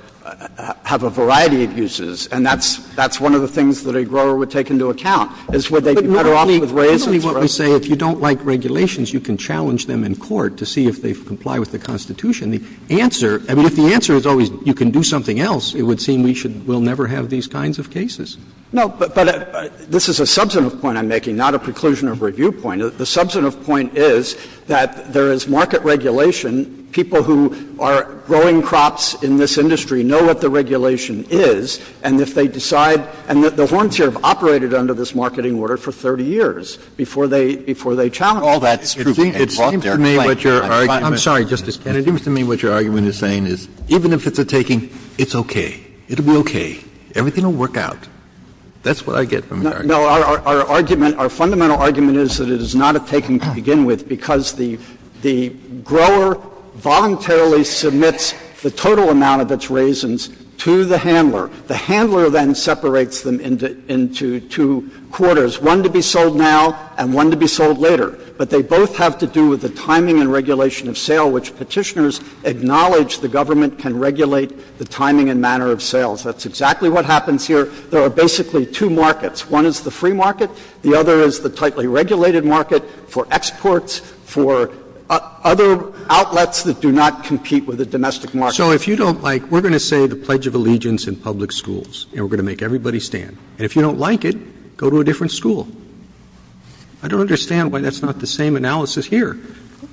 have a variety of uses, and that's one of the things that a grower would take into account, is would they be better off with raisins, right? But isn't what we say, if you don't like regulations, you can challenge them in court to see if they comply with the Constitution. The answer, I mean, if the answer is always you can do something else, it would seem we should, we'll never have these kinds of cases. No, but this is a substantive point I'm making, not a preclusion or review point. The substantive point is that there is market regulation. People who are growing crops in this industry know what the regulation is, and if they decide, and the Horns here have operated under this marketing order for 30 years before they challenge it. It seems to me what your argument is saying is, even if it's a taking, it's okay. It will be okay. Everything will work out. That's what I get from your argument. No, our argument, our fundamental argument is that it is not a taking to begin with because the grower voluntarily submits the total amount of its raisins to the handler. The handler then separates them into two quarters, one to be sold now and one to be sold later. But they both have to do with the timing and regulation of sale, which Petitioners acknowledge the government can regulate the timing and manner of sales. That's exactly what happens here. There are basically two markets. One is the free market. The other is the tightly regulated market for exports, for other outlets that do not compete with the domestic market. So if you don't like, we're going to say the Pledge of Allegiance in public schools and we're going to make everybody stand. And if you don't like it, go to a different school. I don't understand why that's not the same analysis here.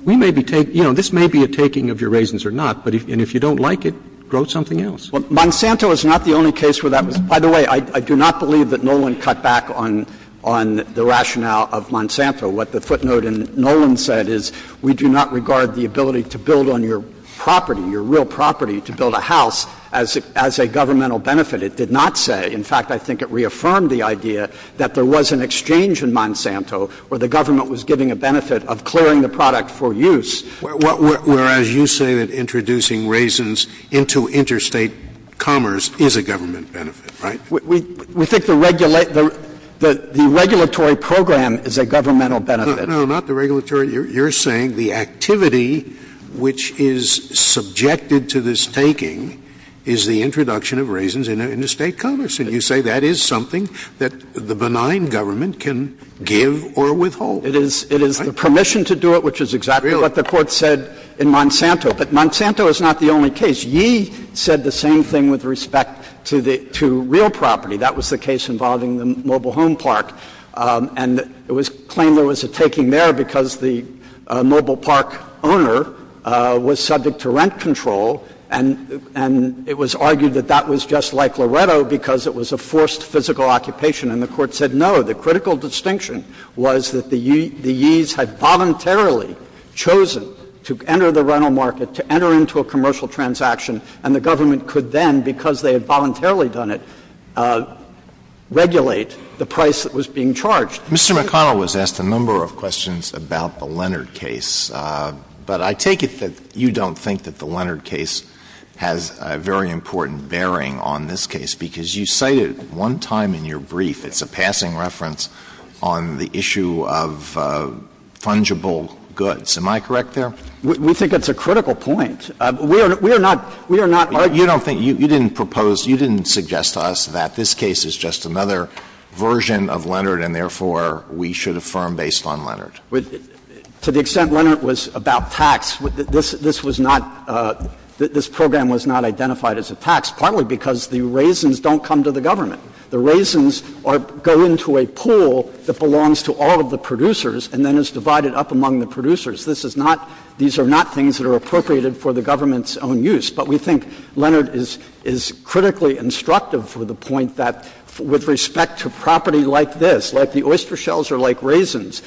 We may be taking — you know, this may be a taking of your raisins or not, and if you don't like it, grow something else. Well, Monsanto is not the only case where that was. By the way, I do not believe that Nolan cut back on the rationale of Monsanto. What the footnote in Nolan said is we do not regard the ability to build on your property, your real property, to build a house as a governmental benefit. It did not say. In fact, I think it reaffirmed the idea that there was an exchange in Monsanto where the government was giving a benefit of clearing the product for use. Whereas you say that introducing raisins into interstate commerce is a government benefit, right? We think the regulatory program is a governmental benefit. No, not the regulatory. You're saying the activity which is subjected to this taking is the introduction of raisins into interstate commerce. And you say that is something that the benign government can give or withhold. It is the permission to do it, which is exactly what the Court said in Monsanto. But Monsanto is not the only case. Ye said the same thing with respect to real property. That was the case involving the mobile home park. And it was claimed there was a taking there because the mobile park owner was subject to rent control, and it was argued that that was just like Loreto because it was a forced physical occupation. And the Court said no. The critical distinction was that the Ye's had voluntarily chosen to enter the rental market, to enter into a commercial transaction, and the government could then, because Mr. McConnell was asked a number of questions about the Leonard case, but I take it that you don't think that the Leonard case has a very important bearing on this case, because you cited one time in your brief, it's a passing reference, on the issue of fungible goods. Am I correct there? We think it's a critical point. We are not we are not You don't think, you didn't propose, you didn't suggest to us that this case is just another version of Leonard and, therefore, we should affirm based on Leonard. To the extent Leonard was about tax, this was not, this program was not identified as a tax, partly because the raisins don't come to the government. The raisins go into a pool that belongs to all of the producers and then is divided up among the producers. This is not, these are not things that are appropriated for the government's own use. But we think Leonard is critically instructive for the point that with respect to property like this, like the oyster shells or like raisins,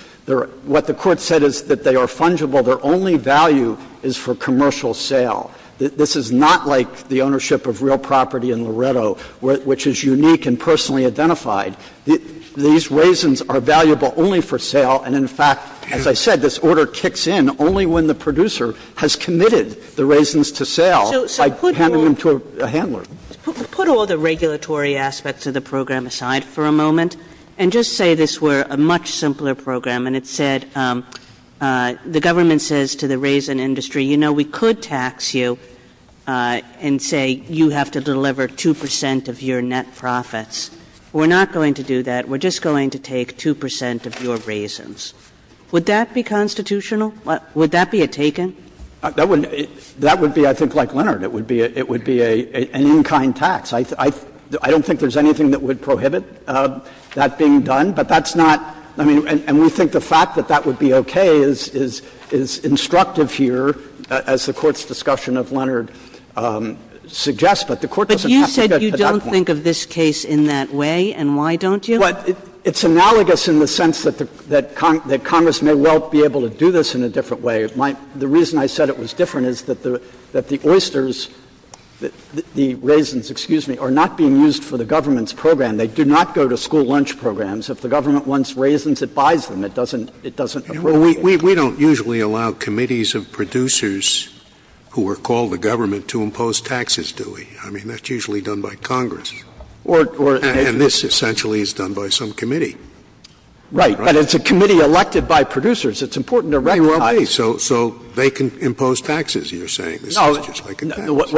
what the Court said is that they are fungible, their only value is for commercial sale. This is not like the ownership of real property in Loretto, which is unique and personally identified. These raisins are valuable only for sale and, in fact, as I said, this order kicks in only when the producer has committed the raisins to sale. So put all the regulatory aspects of the program aside for a moment and just say this were a much simpler program and it said the government says to the raisin industry, you know, we could tax you and say you have to deliver 2 percent of your net profits. We're not going to do that. We're just going to take 2 percent of your raisins. Would that be constitutional? Would that be a taken? That would be, I think, like Leonard. It would be an in-kind tax. I don't think there's anything that would prohibit that being done, but that's not — I mean, and we think the fact that that would be okay is instructive here, as the Court's discussion of Leonard suggests, but the Court doesn't have to get to that point. But you said you don't think of this case in that way, and why don't you? Well, it's analogous in the sense that Congress may well be able to do this in a different way. The reason I said it was different is that the oysters, the raisins, excuse me, are not being used for the government's program. They do not go to school lunch programs. If the government wants raisins, it buys them. It doesn't — it doesn't appropriate. We don't usually allow committees of producers who are called to government to impose taxes, do we? I mean, that's usually done by Congress. Or — And this essentially is done by some committee. Right. But it's a committee elected by producers. It's important to recognize — Well, so they can impose taxes, you're saying. This is just like a tax.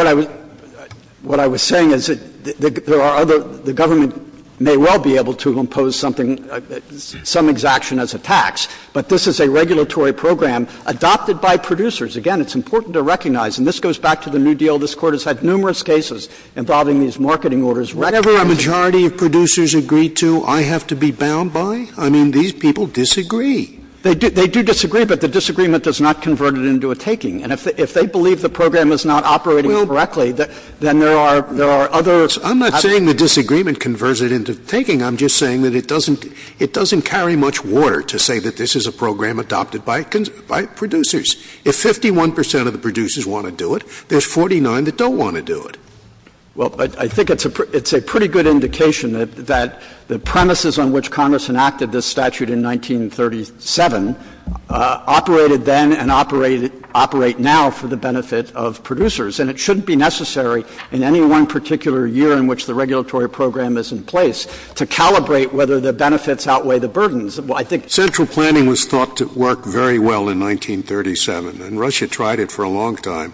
What I was saying is that there are other — the government may well be able to impose something, some exaction as a tax, but this is a regulatory program adopted by producers. Again, it's important to recognize, and this goes back to the New Deal. This Court has had numerous cases involving these marketing orders. Whenever a majority of producers agree to, I have to be bound by? I mean, these people disagree. They do disagree, but the disagreement does not convert it into a taking. And if they believe the program is not operating correctly, then there are — Well, I'm not saying the disagreement converts it into taking. I'm just saying that it doesn't — it doesn't carry much water to say that this is a program adopted by producers. If 51 percent of the producers want to do it, there's 49 that don't want to do it. Well, I think it's a pretty good indication that the premises on which Congress enacted this statute in 1937 operated then and operate — operate now for the benefit of producers. And it shouldn't be necessary in any one particular year in which the regulatory program is in place to calibrate whether the benefits outweigh the burdens. Well, I think — Central planning was thought to work very well in 1937, and Russia tried it for a long time.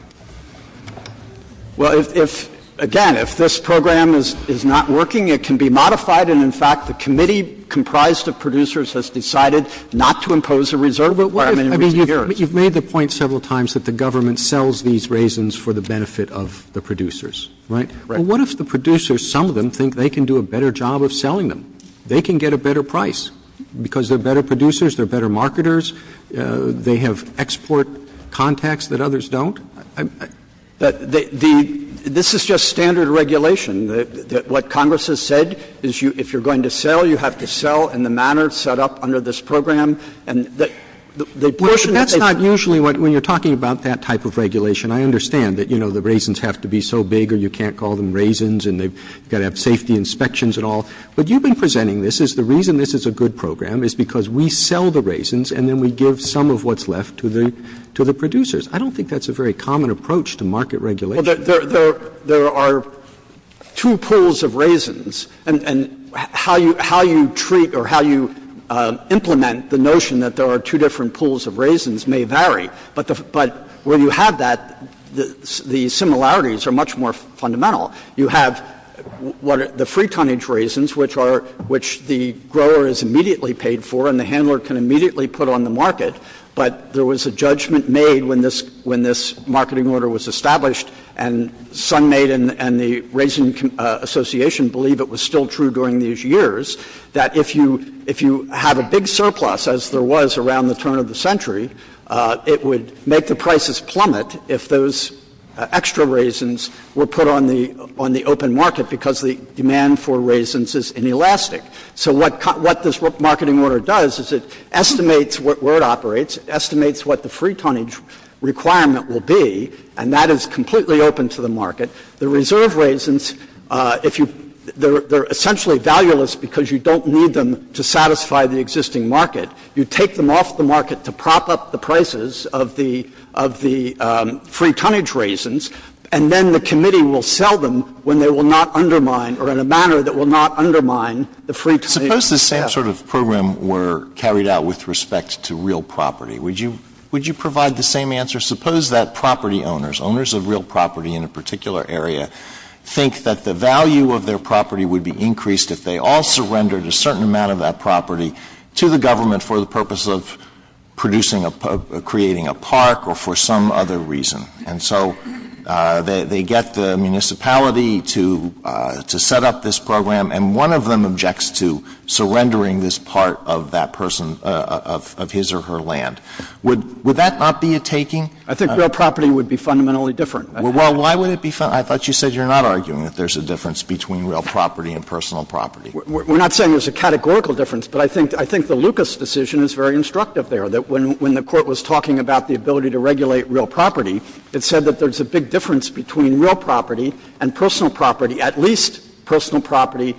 Well, if — again, if this program is not working, it can be modified, and in fact, the committee comprised of producers has decided not to impose a reserve requirement in recent years. Roberts. You've made the point several times that the government sells these raisins for the benefit of the producers, right? Right. Well, what if the producers, some of them, think they can do a better job of selling them? They can get a better price, because they're better producers, they're better marketers, they have export contacts that others don't. But the — this is just standard regulation. What Congress has said is you — if you're going to sell, you have to sell in the manner set up under this program. And the portion that they — Well, but that's not usually what — when you're talking about that type of regulation. I understand that, you know, the raisins have to be so big or you can't call them raisins, and they've got to have safety inspections and all. But you've been presenting this as the reason this is a good program is because we sell the raisins and then we give some of what's left to the — to the producers. I don't think that's a very common approach to market regulation. Well, there — there are two pools of raisins, and how you — how you treat or how you implement the notion that there are two different pools of raisins may vary. But where you have that, the similarities are much more fundamental. You have the free-tonnage raisins, which are — which the grower is immediately paid for and the handler can immediately put on the market, but there was a judgment made when this — when this marketing order was established, and SunMaid and the Raisin Association believe it was still true during these years, that if you — if you have a big surplus, as there was around the turn of the century, it would make the prices plummet if those extra raisins were put on the — on the open market because the demand for raisins is inelastic. So what this marketing order does is it estimates where it operates, it estimates what the free-tonnage requirement will be, and that is completely open to the market. The reserve raisins, if you — they're — they're essentially valueless because you don't need them to satisfy the existing market. You take them off the market to prop up the prices of the — of the free-tonnage raisins, and then the committee will sell them when they will not undermine, or in a manner that will not undermine, the free-tonnage. Alito, suppose the same sort of program were carried out with respect to real property. Would you — would you provide the same answer? Suppose that property owners, owners of real property in a particular area, think that the value of their property would be increased if they all surrendered a certain amount of that property to the government for the purpose of producing a — creating a park or for some other reason. And so they — they get the municipality to — to set up this program, and one of them objects to surrendering this part of that person — of his or her land. Would — would that not be a taking? I think real property would be fundamentally different. Well, why would it be — I thought you said you're not arguing that there's a difference between real property and personal property. We're not saying there's a categorical difference, but I think — I think the Lucas decision is very instructive there, that when — when the Court was talking about the ability to regulate real property, it said that there's a big difference between real property and personal property, at least personal property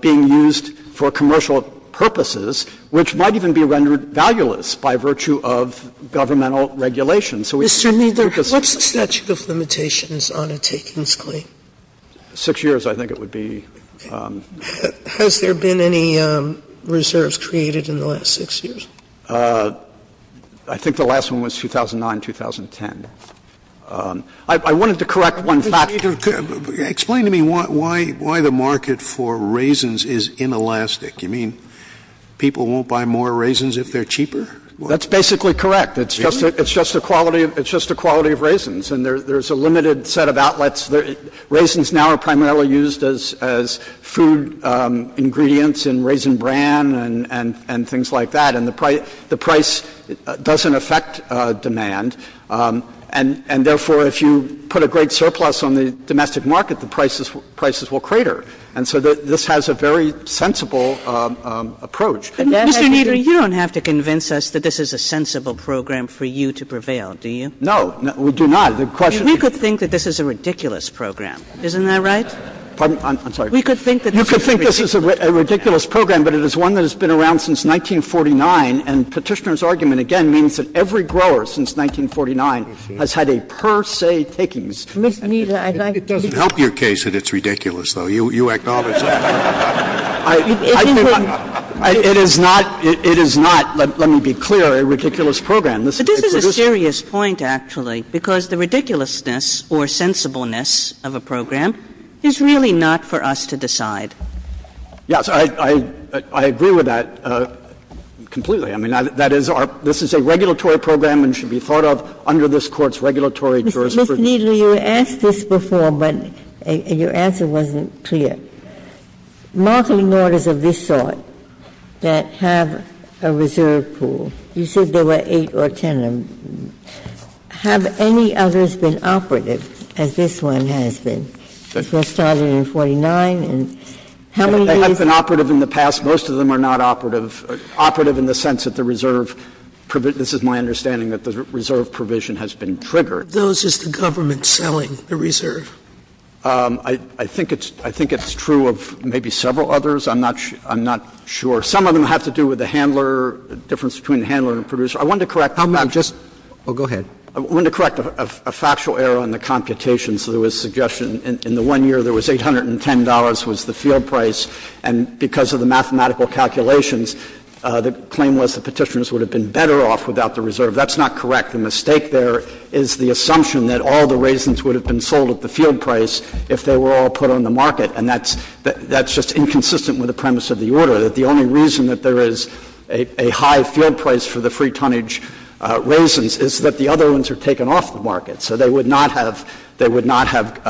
being used for commercial purposes, which might even be rendered valueless by virtue of governmental regulation. So we — Mr. Kneedler, what's the statute of limitations on a takings claim? Six years, I think it would be. Has there been any reserves created in the last six years? I think the last one was 2009, 2010. I wanted to correct one fact. Explain to me why — why the market for raisins is inelastic. You mean people won't buy more raisins if they're cheaper? That's basically correct. It's just a — it's just a quality — it's just a quality of raisins. And there's a limited set of outlets. Raisins now are primarily used as — as food ingredients in Raisin Bran and — and things like that. And the price — the price doesn't affect demand. And — and therefore, if you put a great surplus on the domestic market, the prices — prices will crater. And so this has a very sensible approach. Mr. Kneedler, you don't have to convince us that this is a sensible program for you to prevail, do you? No. We do not. The question is — We could think that this is a ridiculous program. Isn't that right? Pardon? I'm sorry. We could think that this is a ridiculous program. You could think this is a ridiculous program, but it is one that has been around since 1949. And Petitioner's argument, again, means that every grower since 1949 has had a per se takings. Mr. Kneedler, I'd like to — It doesn't help your case that it's ridiculous, though. You — you acknowledge that. It is not — it is not, let me be clear, a ridiculous program. But this is a serious point, actually, because the ridiculousness or sensibleness of a program is really not for us to decide. Yes, I — I agree with that completely. I mean, that is our — this is a regulatory program and should be thought of under this Court's regulatory jurisprudence. Ms. Kneedler, you asked this before, but your answer wasn't clear. Markeling orders of this sort that have a reserve pool, you said there were eight or ten of them. Have any others been operative, as this one has been? They have been operative in the past. Most of them are not operative. Operative in the sense that the reserve — this is my understanding that the reserve provision has been triggered. Those is the government selling the reserve. I think it's — I think it's true of maybe several others. I'm not — I'm not sure. Some of them have to do with the handler, the difference between the handler and producer. I wanted to correct — I'm not just — oh, go ahead. I wanted to correct a factual error in the computation. So there was a suggestion in the one year there was $810 was the field price, and because of the mathematical calculations, the claim was the Petitioners would have been better off without the reserve. That's not correct. The mistake there is the assumption that all the raisins would have been sold at the field price if they were all put on the market, and that's — that's just inconsistent with the premise of the order, that the only reason that there is a high field price for the free-tonnage raisins is that the other ones are taken off the market. So they would not have — they would not have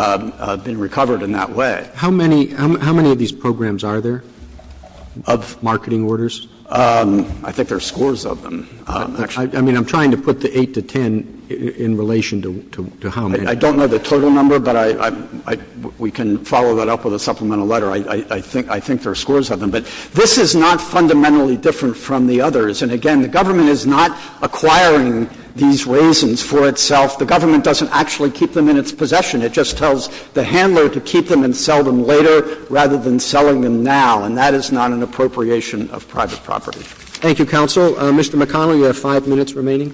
been recovered in that way. How many — how many of these programs are there of marketing orders? I think there are scores of them, actually. I mean, I'm trying to put the 8 to 10 in relation to how many. I don't know the total number, but I — we can follow that up with a supplemental letter. I think — I think there are scores of them. But this is not fundamentally different from the others. And again, the government is not acquiring these raisins for itself. The government doesn't actually keep them in its possession. It just tells the handler to keep them and sell them later rather than selling them now, and that is not an appropriation of private property. Roberts. Thank you, counsel. Mr. McConnell, you have 5 minutes remaining.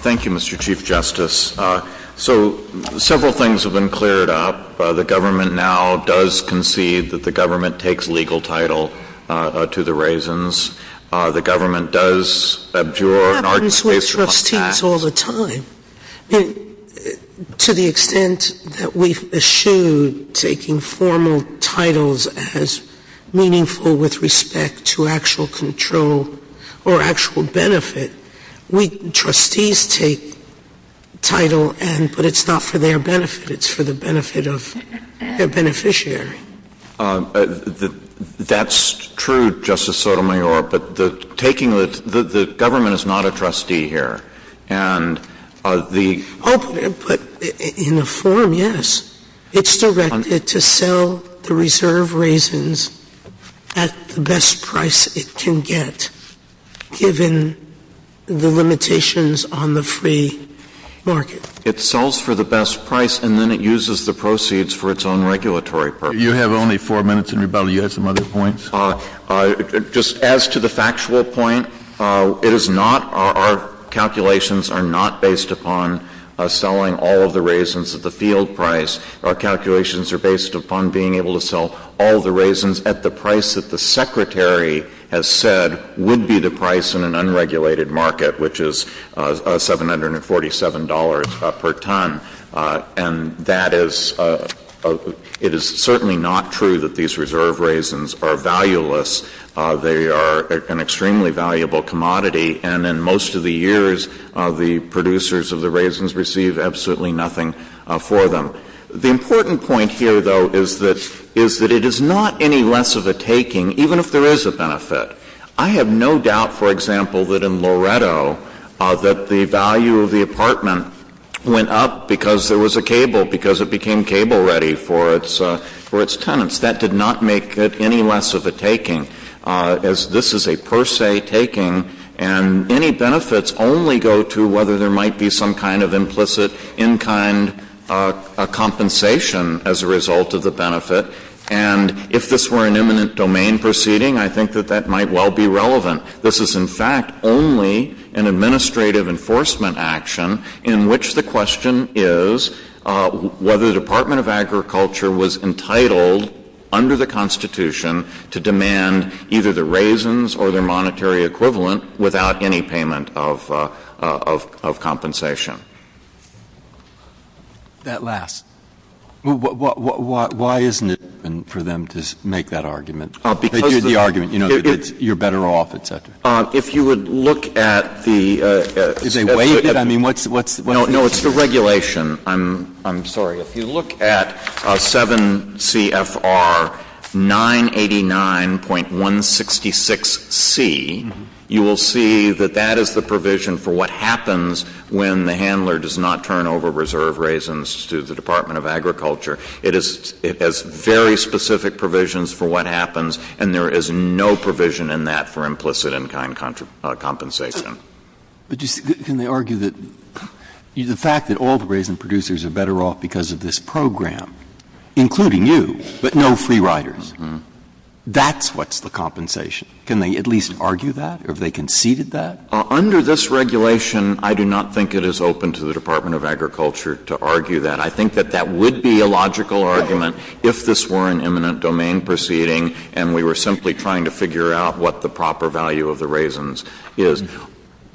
Thank you, Mr. Chief Justice. So several things have been cleared up. The government now does concede that the government takes legal title to the raisins. The government does abjure an argument based on facts. It happens with trustees all the time. To the extent that we've eschewed taking formal titles as meaningful with respect to actual control or actual benefit, we — trustees take title and — but it's not for their benefit. It's for the benefit of their beneficiary. That's true, Justice Sotomayor, but the taking — the government is not a trustee here. And the — Oh, but in a form, yes. It's directed to sell the reserve raisins at the best price it can get given the limitations on the free market. It sells for the best price, and then it uses the proceeds for its own regulatory purpose. You have only 4 minutes in rebuttal. You had some other points? Just as to the factual point, it is not — our calculations are not based upon selling all of the raisins at the field price. Our calculations are based upon being able to sell all the raisins at the price that the Secretary has said would be the price in an unregulated market, which is $747 per ton. And that is — it is certainly not true that these reserve raisins are valueless. They are an extremely valuable commodity, and in most of the years, the producers of the raisins receive absolutely nothing for them. The important point here, though, is that — is that it is not any less of a taking, even if there is a benefit. I have no doubt, for example, that in Loretto, that the value of the apartment went up because there was a cable, because it became cable-ready for its — for its tenants. That did not make it any less of a taking, as this is a per se taking, and any benefits only go to whether there might be some kind of implicit in-kind compensation as a result of the benefit. And if this were an imminent domain proceeding, I think that that might well be relevant. This is, in fact, only an administrative enforcement action in which the question is whether the Department of Agriculture was entitled under the Constitution to demand either the raisins or their monetary equivalent without any payment of — of compensation. Breyer, that last. Why isn't it for them to make that argument? They do the argument, you know, that you're better off, et cetera. If you would look at the — Is they waive it? I mean, what's the issue? No, it's the regulation. I'm sorry. If you look at 7 CFR 989.166C, you will see that that is the provision for what happens when the handler does not turn over reserve raisins to the Department of Agriculture. It is — it has very specific provisions for what happens, and there is no provision in that for implicit in-kind compensation. But just — can they argue that the fact that all the raisin producers are better off because of this program, including you, but no free riders, that's what's the compensation? Can they at least argue that, or have they conceded that? Under this regulation, I do not think it is open to the Department of Agriculture to argue that. I think that that would be a logical argument if this were an imminent domain proceeding and we were simply trying to figure out what the proper value of the raisins is,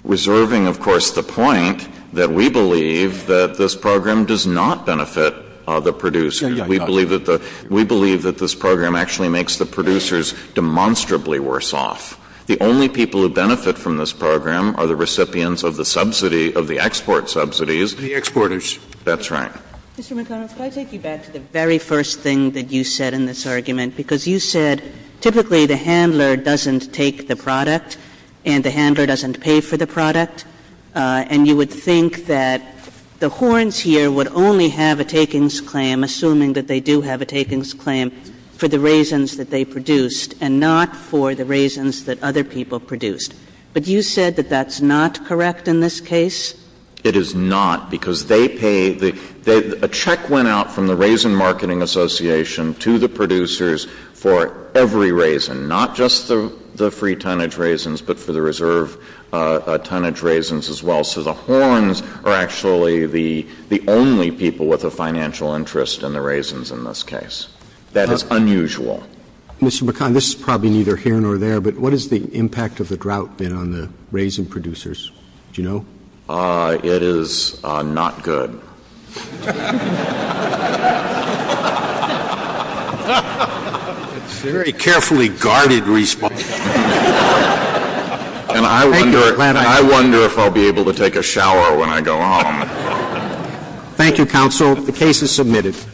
reserving, of course, the point that we believe that this program does not benefit the producers. We believe that the — we believe that this program actually makes the producers demonstrably worse off. The only people who benefit from this program are the recipients of the subsidy — of the export subsidies. The exporters. That's right. Mr. McConnell, if I take you back to the very first thing that you said in this argument, because you said typically the handler doesn't take the product and the handler doesn't pay for the product, and you would think that the horns here would only have a takings claim, assuming that they do have a takings claim, for the raisins that they produced and not for the raisins that other people produced. But you said that that's not correct in this case? It is not, because they pay the — a check went out from the Raisin Marketing Association to the producers for every raisin, not just the free-tonnage raisins, but for the reserve-tonnage raisins as well. So the horns are actually the — the only people with a financial interest in the raisins in this case. That is unusual. Mr. McConnell, this is probably neither here nor there, but what is the impact of the drought been on the raisin producers? Do you know? It is not good. It's a very carefully guarded response. Thank you, Atlanta. And I wonder if I'll be able to take a shower when I go home. Thank you, Counsel. The case is submitted.